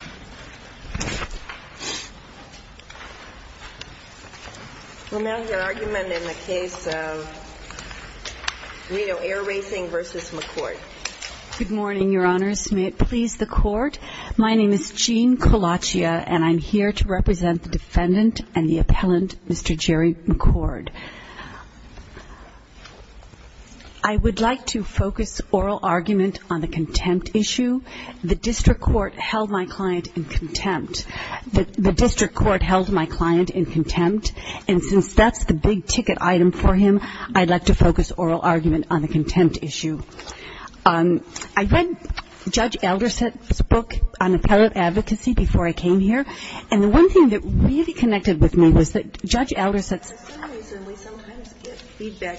Good morning, Your Honors. May it please the Court, my name is Jean Colaccia and I'm here to represent the defendant and the appellant, Mr. Jerry McCord. I would like to focus oral argument on the contempt issue. The district court held my client in contempt and since that's the big ticket item for him, I'd like to focus oral argument on the contempt issue. I read Judge Elderset's book on appellate advocacy before I came here and the one thing that really connected with me was that Judge Elderset's book, he said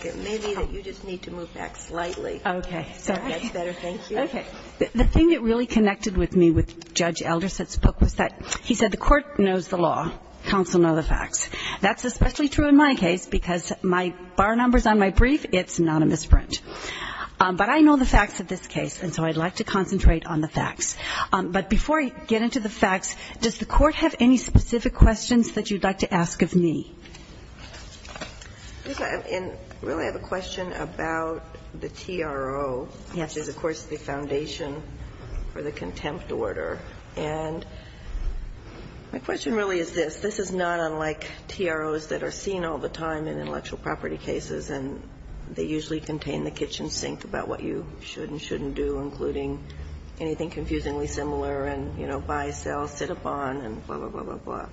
the court knows the law, counsel knows the facts. That's especially true in my case because my bar numbers on my brief, it's anonymous print. But I know the facts of this case and so I'd like to concentrate on the facts. But before I get into the facts, does the court have any specific questions that you'd like to ask of me? I really have a question about the TRO, which is of course the foundation for the contempt order. And my question really is this. This is not unlike TROs that are seen all the time in intellectual property cases and they usually contain the kitchen sink about what you should and shouldn't do, including anything confusingly similar and, you know, buy, sell, sit upon and blah, blah, blah, blah, blah.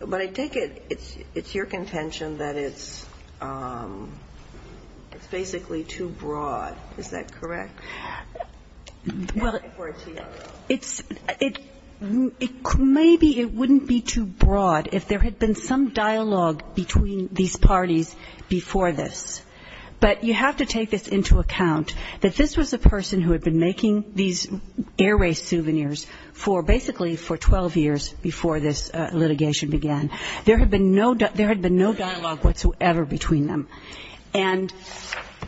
But I take it it's your contention that it's basically too broad. Is that correct? Well, maybe it wouldn't be too broad if there had been some dialogue between these parties before this. But you have to take this into account that this was a person who had been making these air race souvenirs for basically for 12 years before this litigation began. There had been no dialogue whatsoever between them. And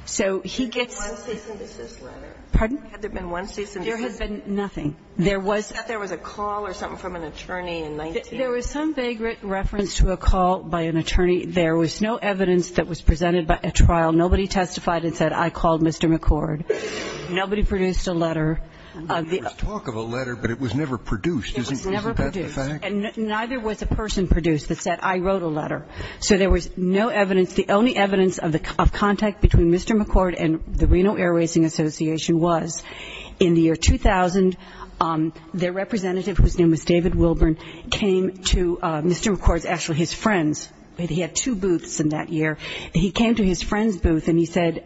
so he gets – Had there been one cease and desist letter? Pardon? Had there been one cease and desist letter? There had been nothing. There was – I thought there was a call or something from an attorney in 19 – There was some vague reference to a call by an attorney. There was no evidence that was presented by a trial. Nobody testified and said I called Mr. McCord. Nobody produced a letter. There was talk of a letter, but it was never produced. It was never produced. Isn't that the fact? And neither was a person produced that said I wrote a letter. So there was no evidence. The only evidence of contact between Mr. McCord and the Reno Air Racing Association was in the year 2000, their representative, whose name was David Wilburn, came to Mr. McCord's – actually his friend's – he had two booths in that year. He came to his friend's booth and he said,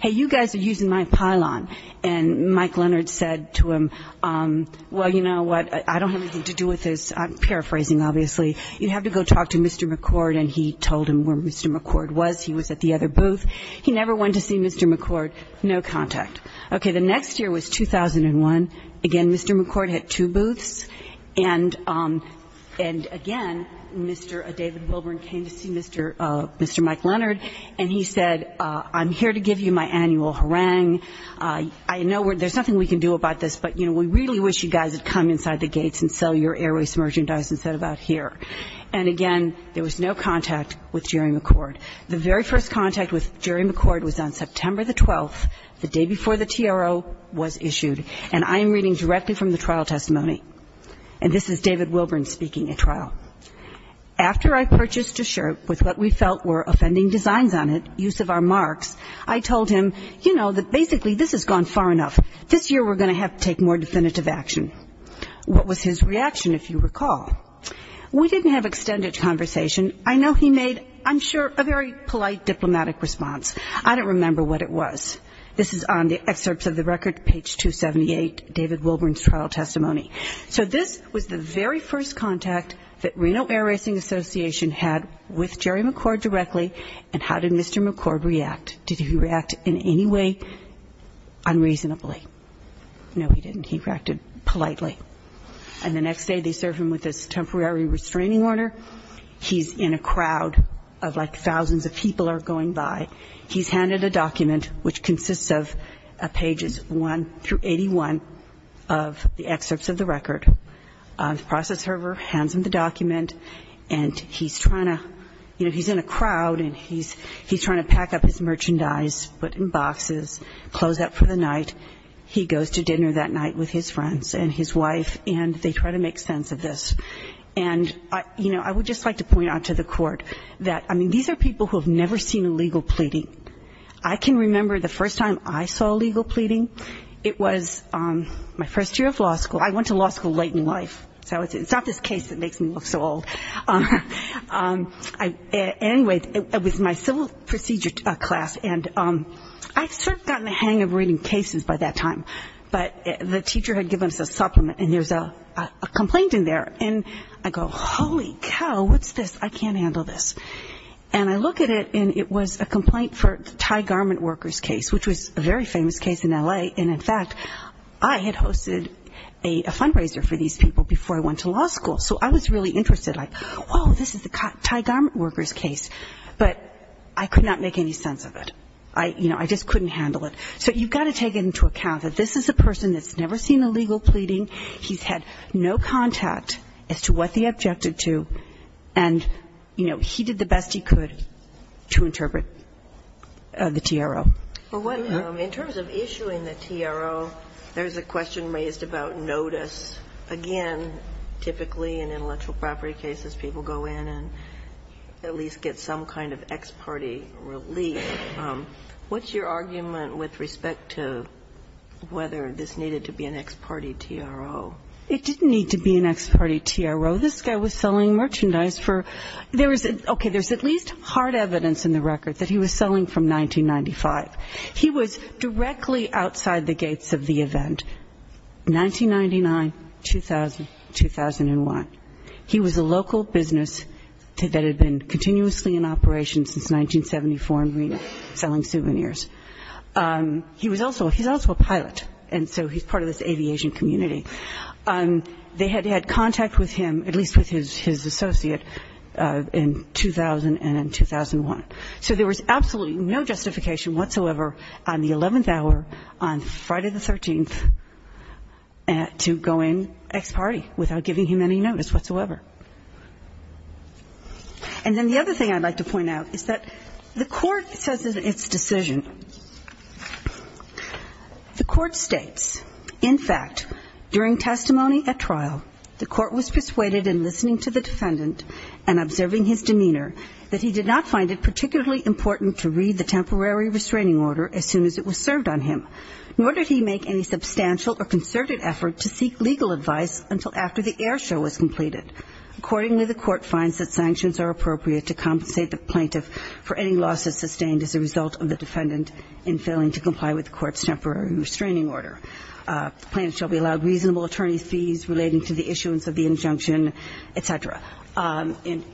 hey, you guys are using my pylon. And Mike Leonard said to him, well, you know what, I don't have anything to do with this. I'm paraphrasing, obviously. You have to go talk to Mr. McCord. And he told him where Mr. McCord was. He was at the other booth. He never went to see Mr. McCord. No contact. Okay. The next year was 2001. Again, Mr. McCord had two booths. And again, Mr. David Wilburn came to see Mr. Mike Leonard and he said, I'm here to give you my annual harangue. I know there's nothing we can do about this, but, you know, we really wish you guys would come inside the gates and sell your airway submerging dyes instead of out here. And again, there was no contact with Jerry McCord. The very first contact with Jerry McCord was on September the 12th, the day before the TRO was issued. And I am reading directly from the trial testimony. And this is David Wilburn speaking at trial. After I purchased a shirt with what we felt were offending designs on it, use of our marks, I told him, you know, that basically this has gone far enough. This year we're going to have to take more definitive action. What was his reaction, if you recall? We didn't have extended conversation. I know he made, I'm sure, a very polite diplomatic response. I don't remember what it was. This is on the excerpts of the record, page 278, David Wilburn's trial testimony. So this was the very first contact that Reno Air Racing Association had with Jerry McCord directly. And how did Mr. McCord react? Did he react in any way unreasonably? No, he didn't. He reacted politely. And the next day they serve him with this temporary restraining order. He's in a crowd of like thousands of people are going by. He's handed a document which consists of pages 1 through 81 of the excerpts of the record. The process server hands him the document. And he's trying to, you know, he's in a crowd. And he's trying to pack up his merchandise, put it in boxes, close up for the night. He goes to dinner that night with his friends and his wife. And they try to make sense of this. And, you know, I would just like to point out to the court that, I mean, these are people who have never seen a legal pleading. I can remember the first time I saw a legal pleading. It was my first year of law school. I went to law school late in life. So it's not this case that makes me look so old. Anyway, it was my civil procedure class. And I had sort of gotten the hang of reading cases by that time. But the teacher had given us a supplement. And there's a complaint in there. And I go, holy cow, what's this? I can't handle this. And I look at it, and it was a complaint for the tie garment workers case, which was a very famous case in L.A. And, in fact, I had hosted a fundraiser for these people before I went to law school. So I was really interested. Like, oh, this is the tie garment workers case. But I could not make any sense of it. I, you know, I just couldn't handle it. So you've got to take into account that this is a person that's never seen a legal pleading. He's had no contact as to what they objected to. And, you know, he did the best he could to interpret the TRO. Well, in terms of issuing the TRO, there's a question raised about notice. Again, typically in intellectual property cases, people go in and at least get some kind of ex parte relief. What's your argument with respect to whether this needed to be an ex parte TRO? It didn't need to be an ex parte TRO. This guy was selling merchandise for – there was – okay, there's at least hard evidence in the record that he was selling from 1995. He was directly outside the gates of the event, 1999, 2000, 2001. He was a local business that had been continuously in operation since 1974 in Reno selling souvenirs. He was also – he's also a pilot, and so he's part of this aviation community. They had had contact with him, at least with his associate, in 2000 and in 2001. So there was absolutely no justification whatsoever on the 11th hour, on Friday the 13th, to go in ex parte without giving him any notice whatsoever. And then the other thing I'd like to point out is that the Court says in its decision, the Court states, in fact, during testimony at trial, the Court was persuaded in listening to the defendant and observing his demeanor that he did not find it particularly important to read the temporary restraining order as soon as it was served on him, nor did he make any substantial or concerted effort to seek legal advice until after the air show was completed. Accordingly, the Court finds that sanctions are appropriate to compensate the plaintiff for any losses sustained as a result of the defendant in failing to comply with the Court's temporary restraining order. The plaintiff shall be allowed reasonable attorney's fees relating to the issuance of the injunction, et cetera. And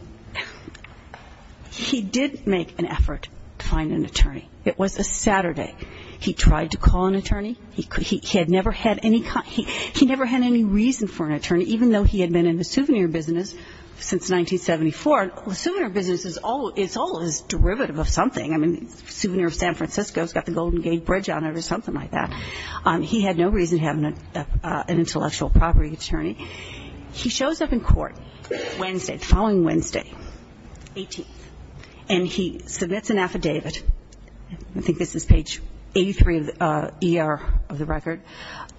he did make an effort to find an attorney. It was a Saturday. He tried to call an attorney. He had never had any – he never had any reason for an attorney, even though he had been in the souvenir business since 1974. A souvenir business is always derivative of something. I mean, souvenir of San Francisco's got the Golden Gate Bridge on it or something like that. He had no reason to have an intellectual property attorney. He shows up in court Wednesday, the following Wednesday, 18th, and he submits an affidavit. I think this is page 83 of the ER, of the record.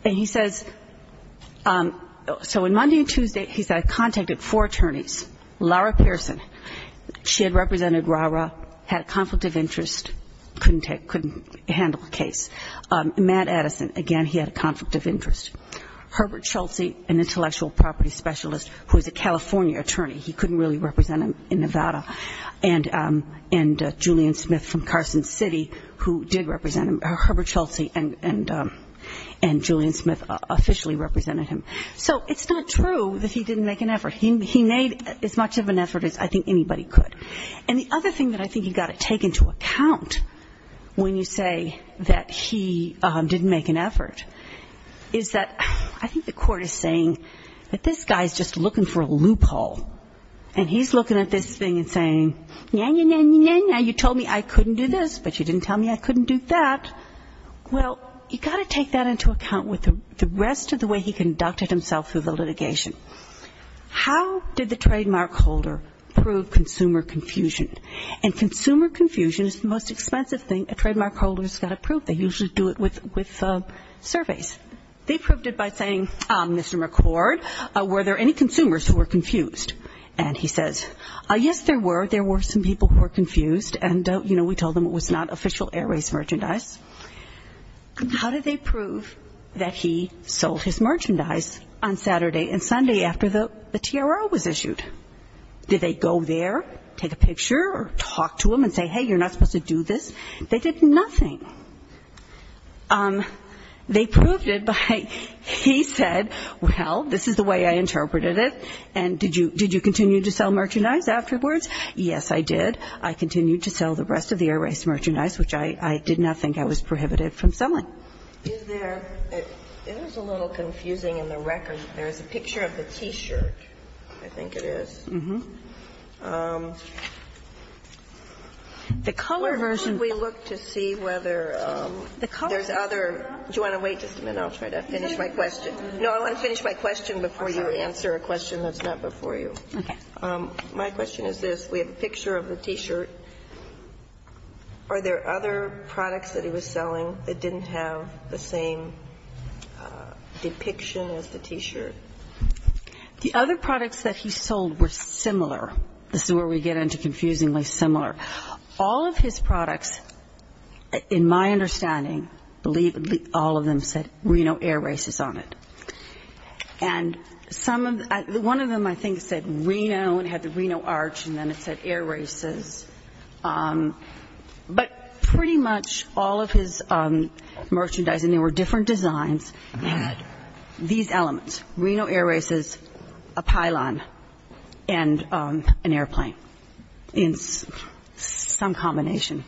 And he says – so on Monday and Tuesday, he said, I contacted four attorneys. Lara Pearson, she had represented RARA, had a conflict of interest, couldn't handle the case. Matt Addison, again, he had a conflict of interest. Herbert Chelsea, an intellectual property specialist who was a California attorney. He couldn't really represent him in Nevada. And Julian Smith from Carson City, who did represent him. Herbert Chelsea and Julian Smith officially represented him. So it's not true that he didn't make an effort. He made as much of an effort as I think anybody could. And the other thing that I think you've got to take into account when you say that he didn't make an effort, is that I think the court is saying that this guy is just looking for a loophole. And he's looking at this thing and saying, you told me I couldn't do this, but you didn't tell me I couldn't do that. Well, you've got to take that into account with the rest of the way he conducted himself through the litigation. How did the trademark holder prove consumer confusion? And consumer confusion is the most expensive thing a trademark holder has got to prove. They usually do it with surveys. They proved it by saying, Mr. McCord, were there any consumers who were confused? And he says, yes, there were. There were some people who were confused, and, you know, we told them it was not official Air Race merchandise. How did they prove that he sold his merchandise on Saturday and Sunday after the TRO was issued? Did they go there, take a picture or talk to him and say, hey, you're not supposed to do this? They did nothing. They proved it by, he said, well, this is the way I interpreted it, and did you continue to sell merchandise afterwards? Yes, I did. I continued to sell the rest of the Air Race merchandise, which I did not think I was prohibited from selling. Is there, it is a little confusing in the record. There is a picture of the T-shirt, I think it is. The color version. Can we look to see whether there's other, do you want to wait just a minute, I'll try to finish my question. No, I want to finish my question before you answer a question that's not before you. My question is this, we have a picture of the T-shirt. Are there other products that he was selling that didn't have the same depiction as the T-shirt? The other products that he sold were similar. This is where we get into confusingly similar. All of his products, in my understanding, all of them said Reno Air Races on it. And one of them, I think, said Reno and had the Reno arch, and then it said Air Races. But pretty much all of his merchandise, and they were different designs, had these elements. Reno Air Races, a pylon, and an airplane in some combination.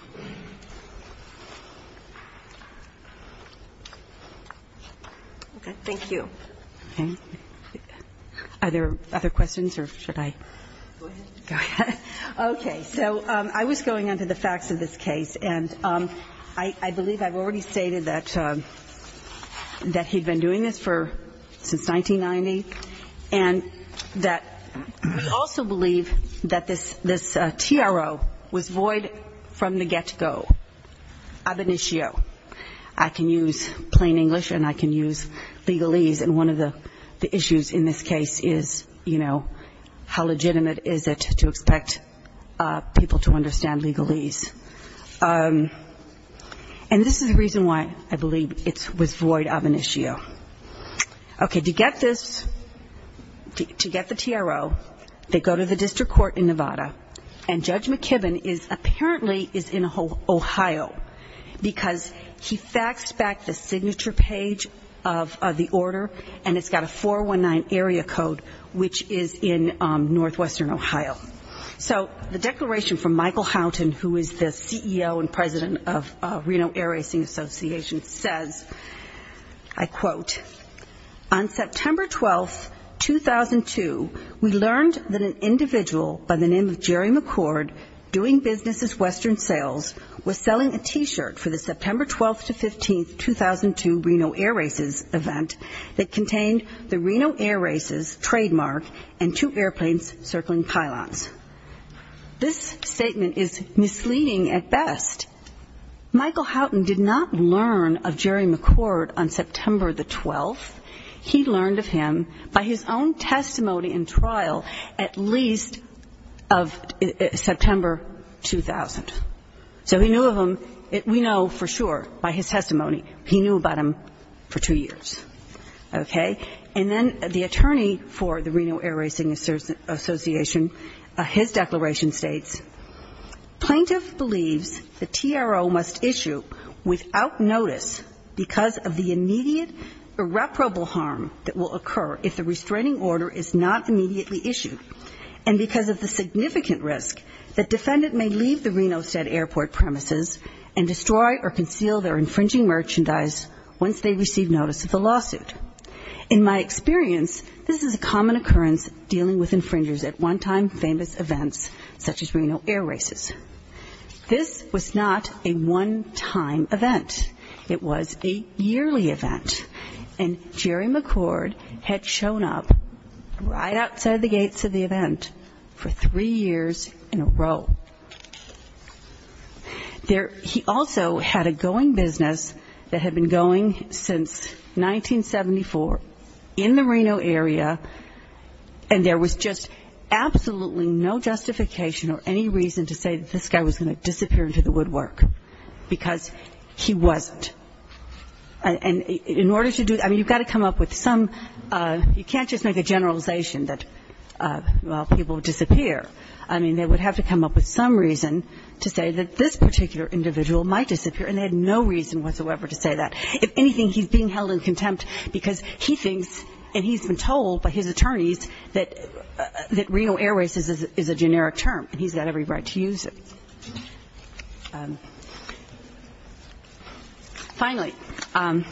Thank you. Are there other questions, or should I go ahead? Okay, so I was going on to the facts of this case, and I believe I've already stated that he'd been doing this for, since 1990, and that we also believe that this TRO was void from the get-go, ab initio. I can use plain English and I can use legalese, and one of the issues in this case is, you know, how legitimate is it to expect people to understand legalese. And this is the reason why I believe it was void of initio. Okay, to get this, to get the TRO, they go to the district court in Nevada, and Judge McKibben apparently is in Ohio, because he faxed back the signature page of the order, and it's got a 419 area code, which is in northwestern Ohio. So the declaration from Michael Houghton, who is the CEO and president of Reno Air Racing Association, says, I quote, this statement is misleading at best. Michael Houghton did not learn of Jerry McCord on September the 12th. He learned of him by his own testimony in trial at least of September 2000. So he knew of him, we know for sure by his testimony, he knew about him for two years. Okay, and then the attorney for the Reno Air Racing Association, his declaration states, plaintiff believes the TRO must issue without notice because of the immediate irreparable harm that will occur if the restraining order is not immediately issued, and because of the significant risk that defendant may leave the Reno State Airport premises and destroy or conceal their infringing merchandise once they receive notice of the law. In my experience, this is a common occurrence dealing with infringers at one-time famous events such as Reno Air Races. This was not a one-time event. It was a yearly event, and Jerry McCord had shown up right outside the gates of the event for three years in a row. He also had a going business that had been going since 1974 in the Reno area, and there was just absolutely no justification or any reason to say that this guy was going to disappear into the woodwork, because he wasn't. And in order to do that, I mean, you've got to come up with some, you can't just make a generalization that, well, people disappear, I mean, they would have to come up with some reason to say that this particular individual might disappear, and they had no reason whatsoever to say that. If anything, he's being held in contempt because he thinks, and he's been told by his attorneys, that Reno Air Races is a generic term, and he's got every right to use it. Finally, on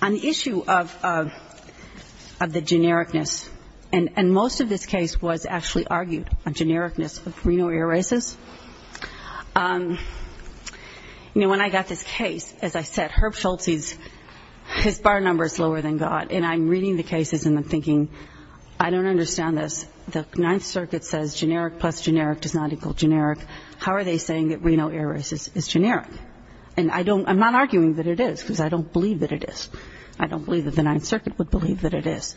the issue of the genericness, and most of this case was a generic case. I was actually argued on genericness of Reno Air Races. You know, when I got this case, as I said, Herb Schultz, his bar number is lower than God, and I'm reading the cases and I'm thinking, I don't understand this, the Ninth Circuit says generic plus generic does not equal generic. How are they saying that Reno Air Races is generic? And I'm not arguing that it is, because I don't believe that it is. I don't believe that the Ninth Circuit would believe that it is.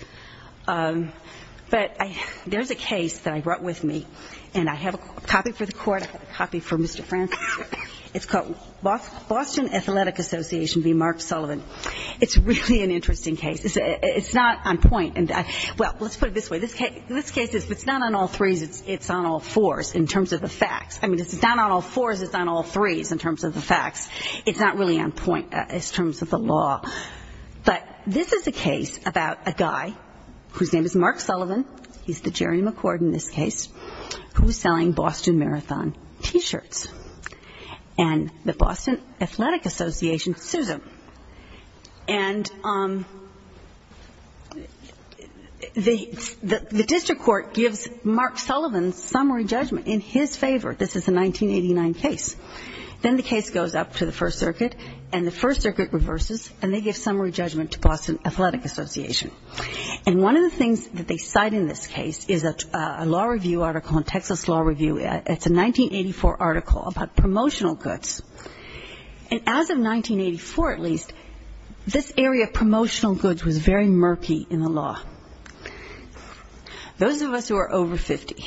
But there's a case that I brought with me, and I have a copy for the Court, I have a copy for Mr. Francis. It's called Boston Athletic Association v. Mark Sullivan. It's really an interesting case. It's not on point. Well, let's put it this way, this case, if it's not on all threes, it's on all fours in terms of the facts. I mean, if it's not on all fours, it's on all threes in terms of the facts. It's not really on point in terms of the law. But this is a case about a guy whose name is Mark Sullivan, he's the Jerry McCord in this case, who's selling Boston Marathon T-shirts. And the Boston Athletic Association sues him. And the district court gives Mark Sullivan summary judgment in his favor. This is a 1989 case. Then the case goes up to the First Circuit, and the First Circuit reverses, and they give summary judgment to Boston Athletic Association. And one of the things that they cite in this case is a law review article in Texas Law Review. It's a 1984 article about promotional goods. And as of 1984, at least, this area of promotional goods was very murky in the law. Those of us who are over 50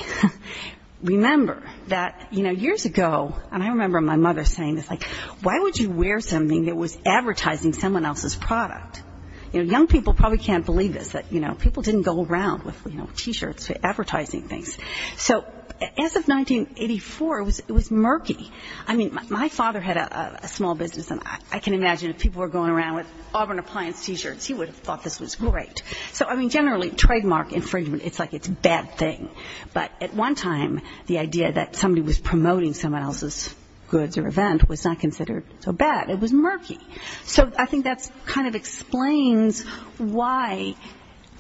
remember that, you know, years ago, and I remember my mother saying this, like, why would you wear something that was advertising someone else's product? You know, young people probably can't believe this, that, you know, people didn't go around with, you know, T-shirts advertising things. So as of 1984, it was murky. I mean, my father had a small business, and I can imagine if people were going around with Auburn Appliance T-shirts, he would have thought this was great. So, I mean, generally, trademark infringement, it's like it's a bad thing. But at one time, the idea that somebody was promoting someone else's goods or event was not considered so bad. It was murky. So I think that kind of explains why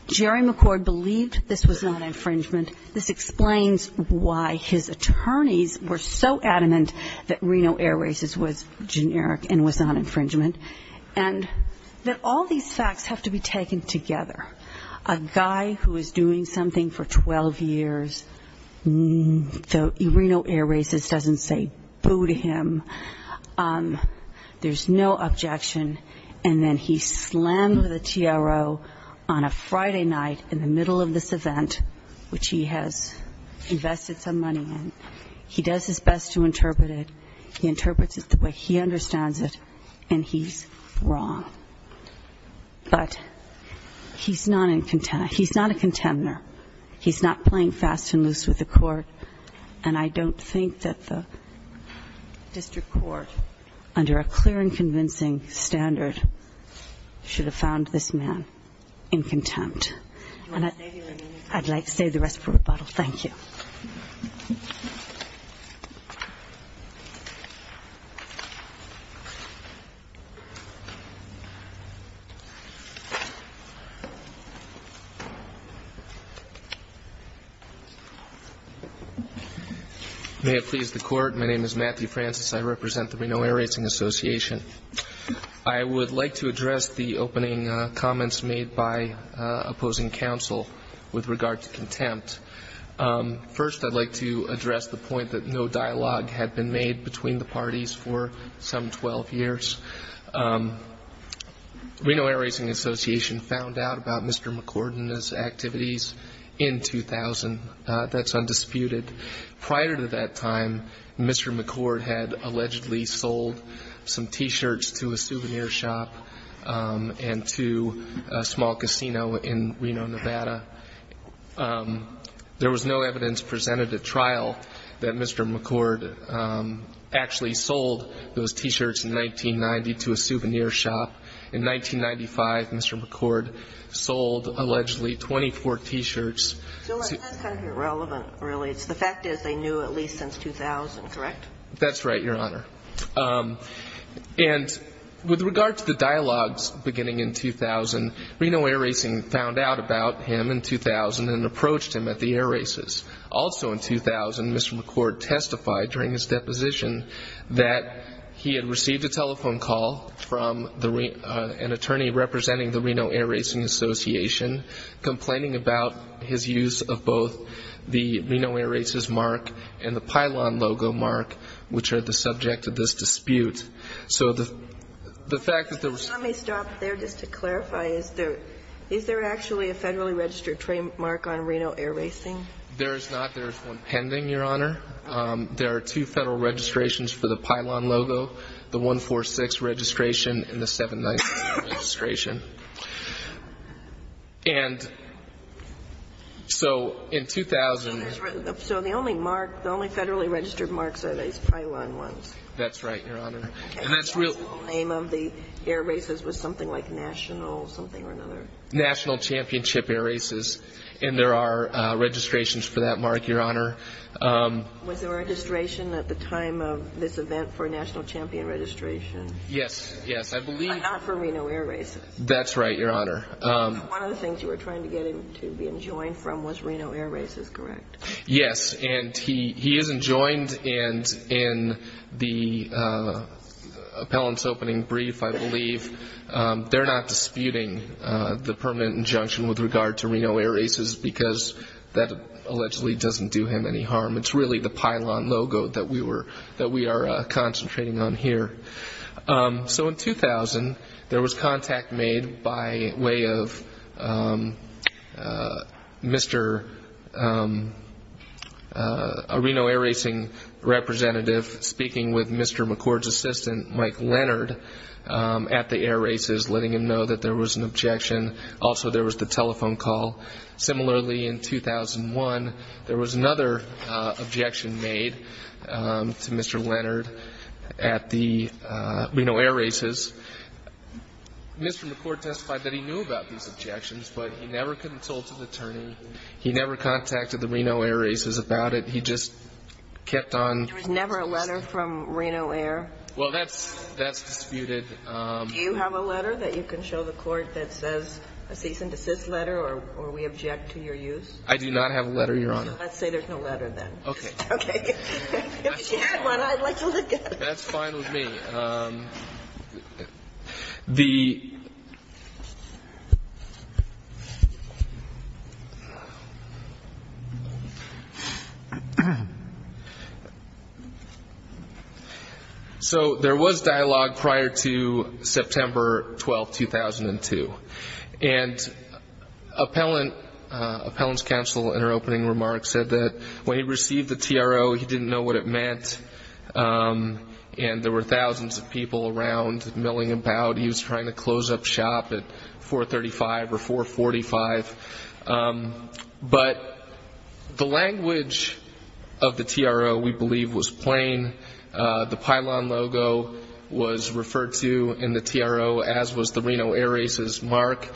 Jerry McCord believed this was not infringement. This explains why his attorneys were so adamant that Reno Air Races was generic and was not infringement, and that all these facts have to be taken together. A guy who is doing something for 12 years, the Reno Air Races doesn't say boo to him. There's no objection. And then he slammed the TRO on a Friday night in the middle of this event, which he has invested some money in. He does his best to interpret it. He interprets it the way he understands it, and he's wrong. But he's not a contender. He's not playing fast and loose with the court. And I don't think that the district court, under a clear and convincing standard, should have found this man in contempt. And I'd like to save the rest for rebuttal. Thank you. May it please the Court. My name is Matthew Francis. I represent the Reno Air Racing Association. I would like to address the opening comments made by opposing counsel with regard to contempt. First, I'd like to address the point that no dialogue had been made between the parties for some 12 years. And I would like to address the point that Mr. McCord had made in 2000 that's undisputed. Prior to that time, Mr. McCord had allegedly sold some T-shirts to a souvenir shop and to a small casino in Reno, Nevada. There was no evidence presented at trial that Mr. McCord actually sold those T-shirts in 1990 to a souvenir shop. In 1995, Mr. McCord sold, allegedly, 24 T-shirts. So that's kind of irrelevant, really. The fact is they knew at least since 2000, correct? That's right, Your Honor. And with regard to the dialogues beginning in 2000, Reno Air Racing found out about him in 2000 and approached him at the air races. Also in 2000, Mr. McCord testified during his deposition that he had received a telephone call from an attorney representing the Reno Air Racing Association complaining about his use of both the Reno Air Races mark and the Pylon logo mark, which are the subject of this dispute. Let me stop there just to clarify. Is there actually a federally registered trademark on Reno Air Racing? There is not. There is one pending, Your Honor. There are two federal registrations for the Pylon logo, the 146 registration and the 796 registration. And so in 2000... So the only mark, the only federally registered marks are these Pylon ones? That's right, Your Honor. And that's really... The full name of the air races was something like National something or another? That's right, Your Honor. One of the things you were trying to get him to be enjoined from was Reno Air Races, correct? Yes, and he is enjoined, and in the appellant's opening brief, I believe, they're not disputing the permanent injunction with regard to Reno Air Races because that allegedly doesn't do him any harm. It's really the Pylon logo that we are concentrating on here. It was made by way of a Reno Air Racing representative speaking with Mr. McCord's assistant, Mike Leonard, at the air races, letting him know that there was an objection. Also, there was the telephone call. Similarly, in 2001, there was another objection made to Mr. Leonard at the Reno Air Races. He was satisfied that he knew about these objections, but he never could have told it to the attorney. He never contacted the Reno Air Races about it. He just kept on... There was never a letter from Reno Air? Well, that's disputed. Do you have a letter that you can show the Court that says a cease and desist letter, or we object to your use? I do not have a letter, Your Honor. Let's say there's no letter, then. Okay. If you had one, I'd like to look at it. That's fine with me. So there was dialogue prior to September 12, 2002. And Appellant's counsel, in her opening remarks, said that when he received the TRO, he didn't know what it meant. And there were thousands of people around milling about. He was trying to close up shop at 435 or 445. But the language of the TRO, we believe, was plain. The pylon logo was referred to in the TRO, as was the Reno Air Races mark,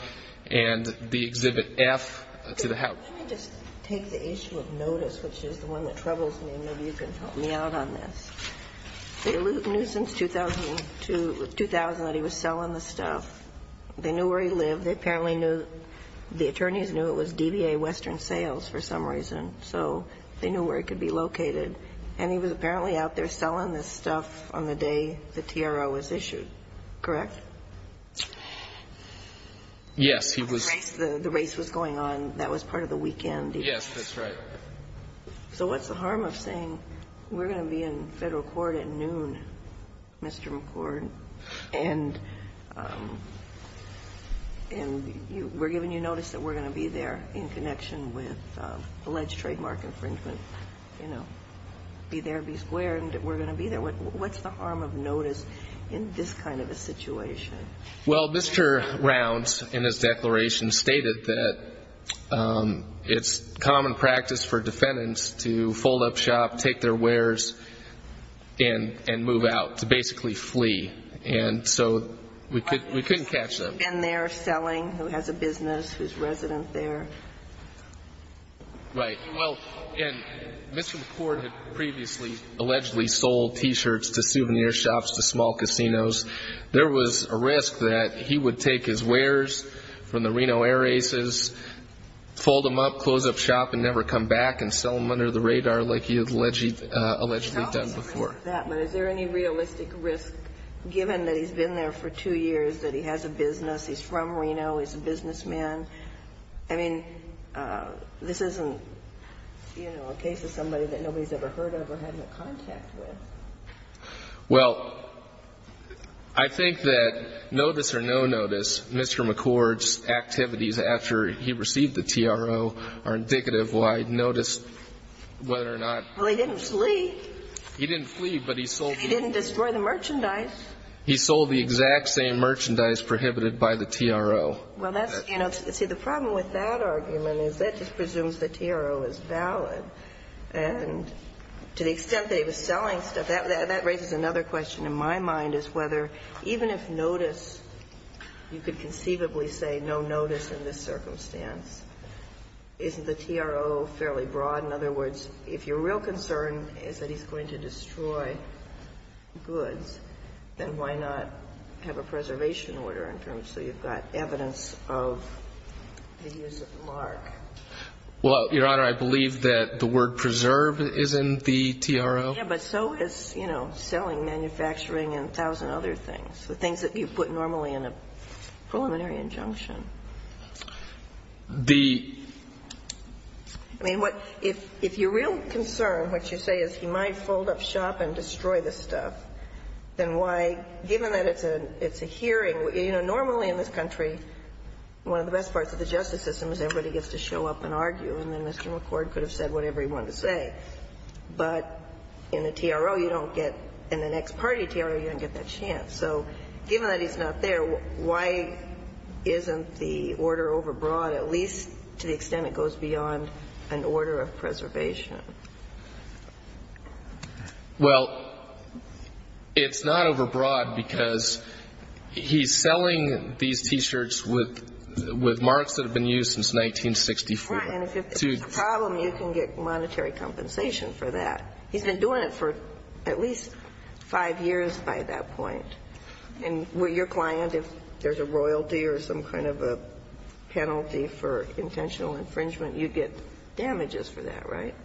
and the Exhibit F to the house. Let me just take the issue of notice, which is the one that troubles me, and maybe you can help me out on this. They knew since 2000 that he was selling the stuff. They knew where he lived. They apparently knew the attorneys knew it was DBA Western Sales for some reason. So they knew where it could be located. And he was apparently out there selling this stuff on the day the TRO was issued, correct? Yes, he was. The race was going on. That was part of the weekend. Yes, that's right. So what's the harm of saying we're going to be in Federal court at noon, Mr. McCord, and we're giving you notice that we're going to be there in connection with alleged trademark infringement, you know, be there, be square, and we're going to be there. What's the harm of notice in this kind of a situation? Well, Mr. Rounds in his declaration stated that it's common practice for defendants to fold up shop, take their wares, and move out, to basically flee. And so we couldn't catch them. And they're selling, who has a business, who's resident there. Right. Well, and Mr. McCord had previously allegedly sold T-shirts to souvenir shops, to small casinos. There was a risk that he would take his wares from the Reno Air Races, fold them up, close up shop, and never come back and sell them under the radar like he had allegedly done before. But is there any realistic risk, given that he's been there for two years, that he has a business, he's from Reno, he's a businessman? I mean, this isn't, you know, a case of somebody that nobody's ever heard of or had any contact with. Well, I think that notice or no notice, Mr. McCord's activities after he received the TRO are indicative why notice, whether or not. Well, he didn't flee. He didn't flee, but he sold the. He didn't destroy the merchandise. He sold the exact same merchandise prohibited by the TRO. Well, that's, you know, see, the problem with that argument is that just presumes the TRO is valid. And to the extent that he was selling stuff, that raises another question in my mind, is whether even if notice, you could conceivably say no notice in this circumstance, isn't the TRO fairly broad? In other words, if your real concern is that he's going to destroy goods, then why not have a preservation order in terms so you've got evidence of the use of the mark? Well, Your Honor, I believe that the word preserve is in the TRO. Yeah, but so is, you know, selling, manufacturing, and a thousand other things, the things that you put normally in a preliminary injunction. The. I mean, if your real concern, what you say, is he might fold up shop and destroy the stuff, then why, given that it's a hearing, you know, normally in this country, one of the best parts of the justice system is everybody gets to show up and argue, and then Mr. McCord could have said whatever he wanted to say. But in the TRO, you don't get, in the next party TRO, you don't get that chance. So given that he's not there, why isn't the order overbroad, at least to the extent it goes beyond an order of preservation? Well, it's not overbroad because he's selling these T-shirts with marks that have been used since 1964. Right, and if there's a problem, you can get monetary compensation for that. He's been doing it for at least five years by that point. And with your client, if there's a royalty or some kind of a penalty for intentional infringement, you'd get damages for that, right?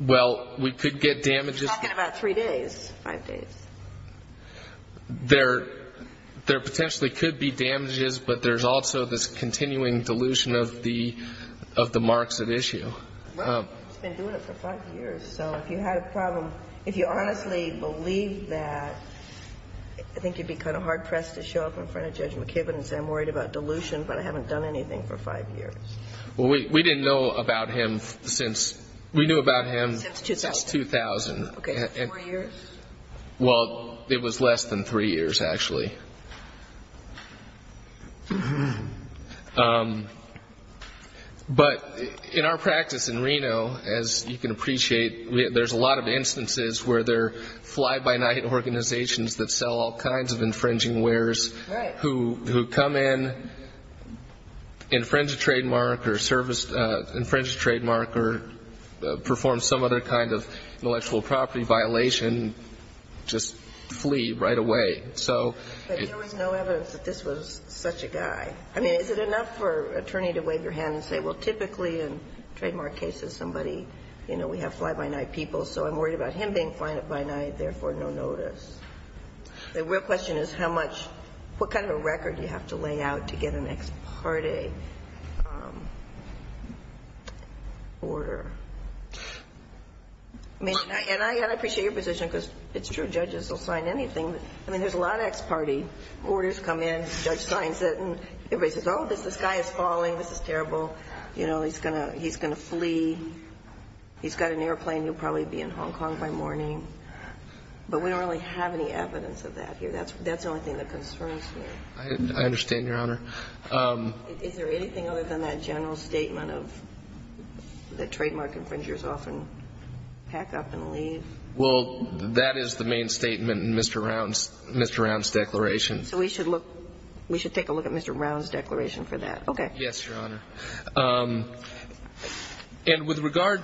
Well, we could get damages. You're talking about three days, five days. There potentially could be damages, but there's also this continuing dilution of the marks at issue. Well, he's been doing it for five years, so if you had a problem, if you honestly believe that, I think you'd be kind of hard-pressed to show up in front of Judge McKibben and say, I'm worried about dilution, but I haven't done anything for five years. Well, we didn't know about him since we knew about him since 2000. Okay, so four years? Well, it was less than three years, actually. But in our practice in Reno, as you can appreciate, there's a lot of instances where there are fly-by-night organizations that sell all kinds of infringing wares who come in, infringe a trademark or service, infringe a trademark or perform some other kind of intellectual property violation, just flee right away. But there was no evidence that this was such a guy. I mean, is it enough for an attorney to wave your hand and say, well, typically in trademark cases, somebody, you know, we have fly-by-night people, so I'm worried about him being fly-by-night, therefore no notice. The real question is how much, what kind of a record do you have to lay out to get an ex parte order. And I appreciate your position because it's true, judges will sign anything. I mean, there's a lot of ex parte orders come in, the judge signs it, and everybody says, oh, this guy is falling, this is terrible, you know, he's going to flee, he's got an airplane, he'll probably be in Hong Kong by morning. But we don't really have any evidence of that here. That's the only thing that concerns me. I understand, Your Honor. Is there anything other than that general statement of that trademark infringers often pack up and leave? Well, that is the main statement in Mr. Round's declaration. So we should look, we should take a look at Mr. Round's declaration for that. Okay. Yes, Your Honor. And with regard,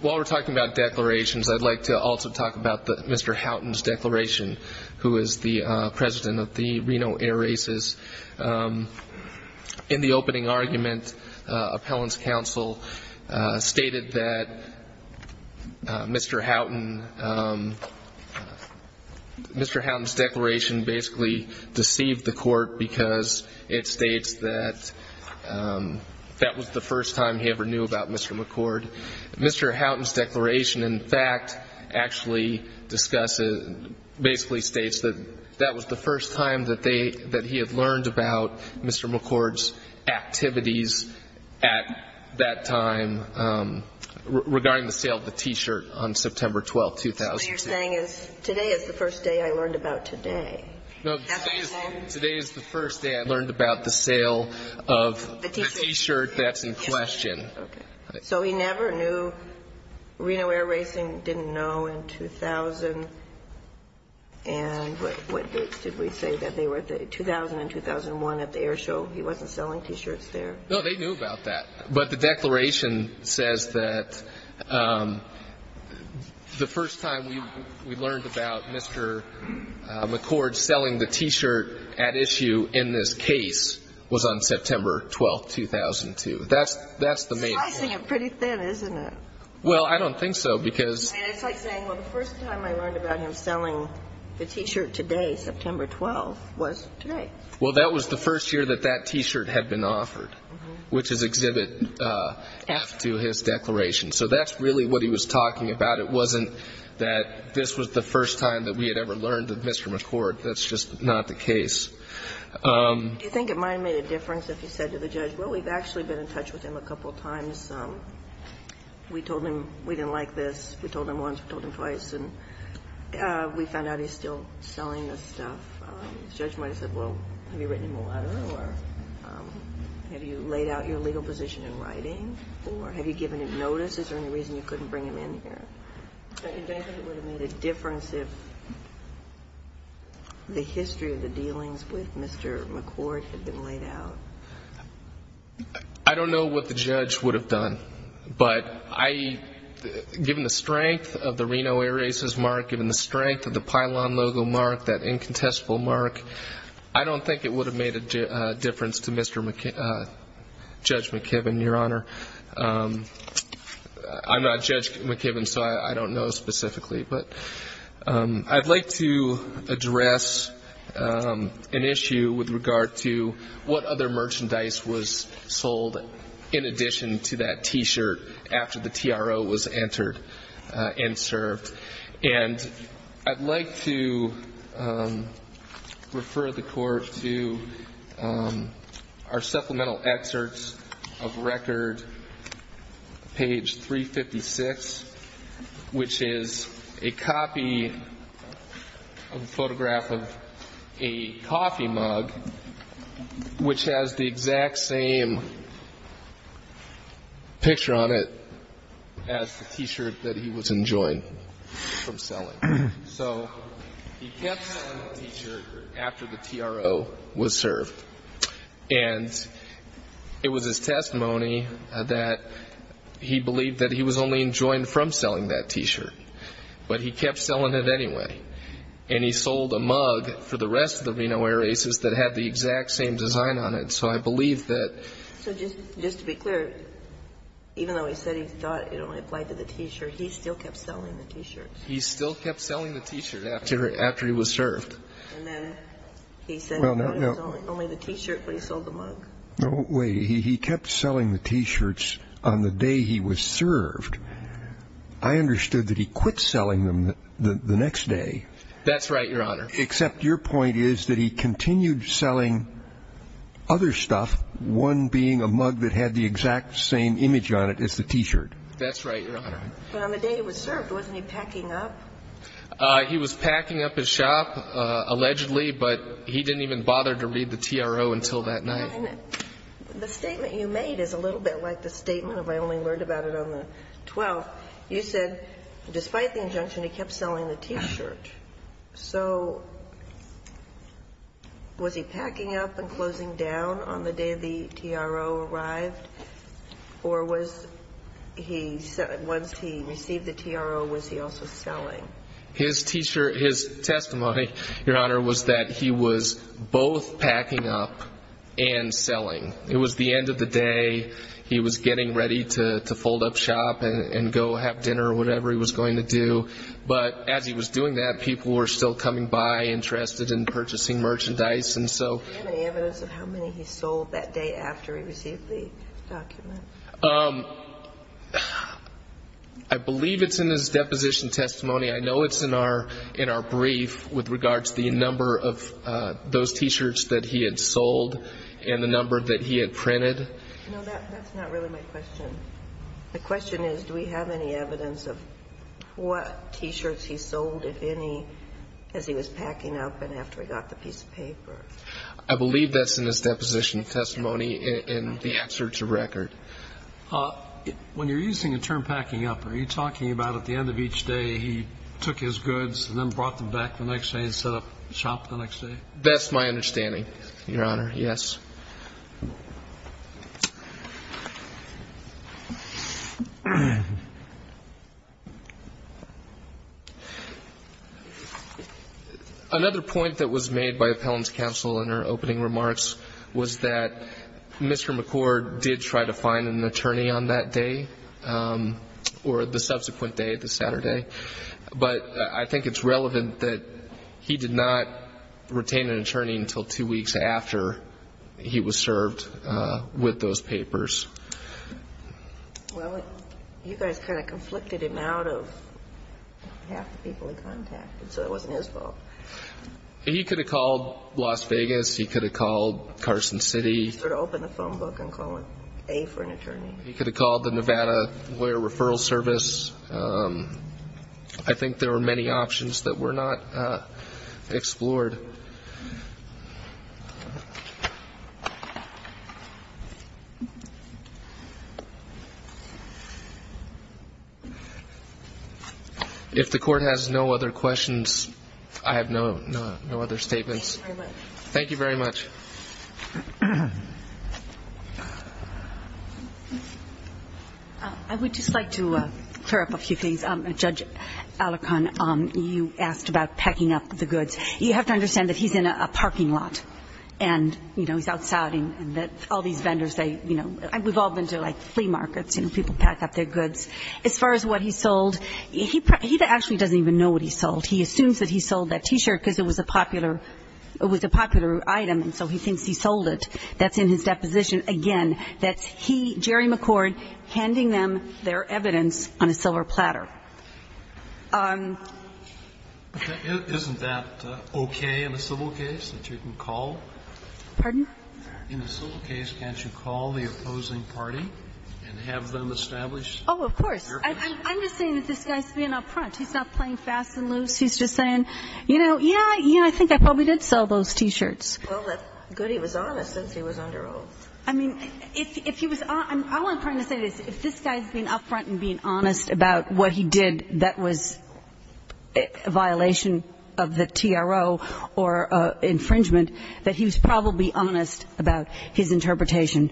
while we're talking about declarations, I'd like to also talk about Mr. Houghton's declaration, who is the president of the Reno Air Races. In the opening argument, appellant's counsel stated that Mr. Houghton, Mr. Houghton's declaration basically deceived the court because it states that that was the first time he ever knew about Mr. McCord. Mr. Houghton's declaration, in fact, actually discusses, basically states that that was the first time that they, that he had learned about Mr. McCord's activities at that time regarding the sale of the T-shirt on September 12th, 2006. So what you're saying is today is the first day I learned about today. No, today is the first day I learned about the sale of the T-shirt that's in question. Okay. So he never knew, Reno Air Racing didn't know in 2000, and what dates did we say that they were? 2000 and 2001 at the air show. He wasn't selling T-shirts there. No, they knew about that. But the declaration says that the first time we learned about Mr. McCord selling the T-shirt at issue in this case was on September 12th, 2002. That's the main point. Slicing it pretty thin, isn't it? Well, I don't think so because. It's like saying, well, the first time I learned about him selling the T-shirt today, September 12th, was today. Well, that was the first year that that T-shirt had been offered, which is Exhibit F to his declaration. So that's really what he was talking about. It wasn't that this was the first time that we had ever learned of Mr. McCord. That's just not the case. Do you think it might have made a difference if he said to the judge, well, we've actually been in touch with him a couple times. We told him we didn't like this. We told him once. We told him twice. And we found out he's still selling this stuff. The judge might have said, well, have you written him a letter? Or have you laid out your legal position in writing? Or have you given him notice? Is there any reason you couldn't bring him in here? Do you think it would have made a difference if the history of the dealings with Mr. McCord had been laid out? I don't know what the judge would have done. But given the strength of the Reno erasers mark, given the strength of the pylon logo mark, that incontestable mark, I don't think it would have made a difference to Judge McKibben, Your Honor. I'm not Judge McKibben, so I don't know specifically. But I'd like to address an issue with regard to what other merchandise was sold in addition to that T-shirt after the TRO was entered and served. And I'd like to refer the Court to our supplemental excerpts of record, page 356, which is a copy of a photograph of a coffee mug, which has the exact same picture on it as the T-shirt that he was enjoined from selling. So he kept selling the T-shirt after the TRO was served. And it was his testimony that he believed that he was only enjoined from selling that T-shirt. But he kept selling it anyway. And he sold a mug for the rest of the Reno erasers that had the exact same design on it. So I believe that... So just to be clear, even though he said he thought it only applied to the T-shirt, he still kept selling the T-shirt. He still kept selling the T-shirt after he was served. And then he said it was only the T-shirt, but he sold the mug. No, wait. He kept selling the T-shirts on the day he was served. I understood that he quit selling them the next day. That's right, Your Honor. Except your point is that he continued selling other stuff, one being a mug that had the exact same image on it as the T-shirt. That's right, Your Honor. But on the day he was served, wasn't he packing up? He was packing up his shop, allegedly, but he didn't even bother to read the TRO until that night. The statement you made is a little bit like the statement, if I only learned about it on the 12th. You said, despite the injunction, he kept selling the T-shirt. So was he packing up and closing down on the day the TRO arrived? Or was he, once he received the TRO, was he also selling? His T-shirt, his testimony, Your Honor, was that he was both packing up and selling. It was the end of the day. He was getting ready to fold up shop and go have dinner or whatever he was going to do. But as he was doing that, people were still coming by interested in purchasing merchandise. Do you have any evidence of how many he sold that day after he received the document? I believe it's in his deposition testimony. I know it's in our brief with regards to the number of those T-shirts that he had sold and the number that he had printed. No, that's not really my question. The question is, do we have any evidence of what T-shirts he sold, if any, as he was packing up and after he got the piece of paper? I believe that's in his deposition testimony in the excerpt to record. When you're using the term packing up, are you talking about at the end of each day he took his goods and then brought them back the next day and set up shop the next day? That's my understanding, Your Honor, yes. Another point that was made by Appellant's counsel in her opening remarks was that Mr. McCord did try to find an attorney on that day or the subsequent day, the Saturday. But I think it's relevant that he did not retain an attorney until two weeks after he was served with those papers. Well, you guys kind of conflicted him out of half the people he contacted, so it wasn't his fault. He could have called Las Vegas. He could have called Carson City. He should have opened a phone book and called A for an attorney. He could have called the Nevada Lawyer Referral Service. I think there were many options that were not explored. If the Court has no other questions, I have no other statements. Thank you very much. Thank you very much. I would just like to clear up a few things. Judge Alacon, you asked about packing up the goods. You have to understand that he's in a parking lot and, you know, he's outside and all these vendors, they, you know, we've all been to, like, flea markets and people pack up their goods. As far as what he sold, he actually doesn't even know what he sold. He assumes that he sold that T-shirt because it was a popular item, and so he thinks he sold it. That's in his deposition. Again, that's he, Jerry McCord, handing them their evidence on a silver platter. Isn't that okay in a civil case that you can call? Pardon? In a civil case, can't you call the opposing party and have them establish their position? Oh, of course. I'm just saying that this guy's being up front. He's not playing fast and loose. He's just saying, you know, yeah, yeah, I think I probably did sell those T-shirts. Well, that's good he was honest since he was under oath. I mean, if he was honest, all I'm trying to say is if this guy is being up front and being honest about what he did that was a violation of the TRO or infringement, that he was probably honest about his interpretation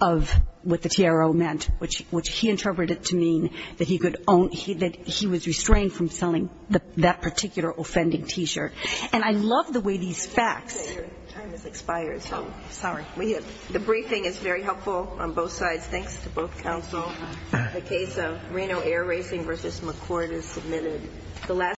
of what the TRO meant, which he interpreted to mean that he was restrained from selling that particular offending T-shirt. And I love the way these facts. Your time has expired, so sorry. The briefing is very helpful on both sides. Thanks to both counsel. The case of Reno Air Racing v. McCord is submitted.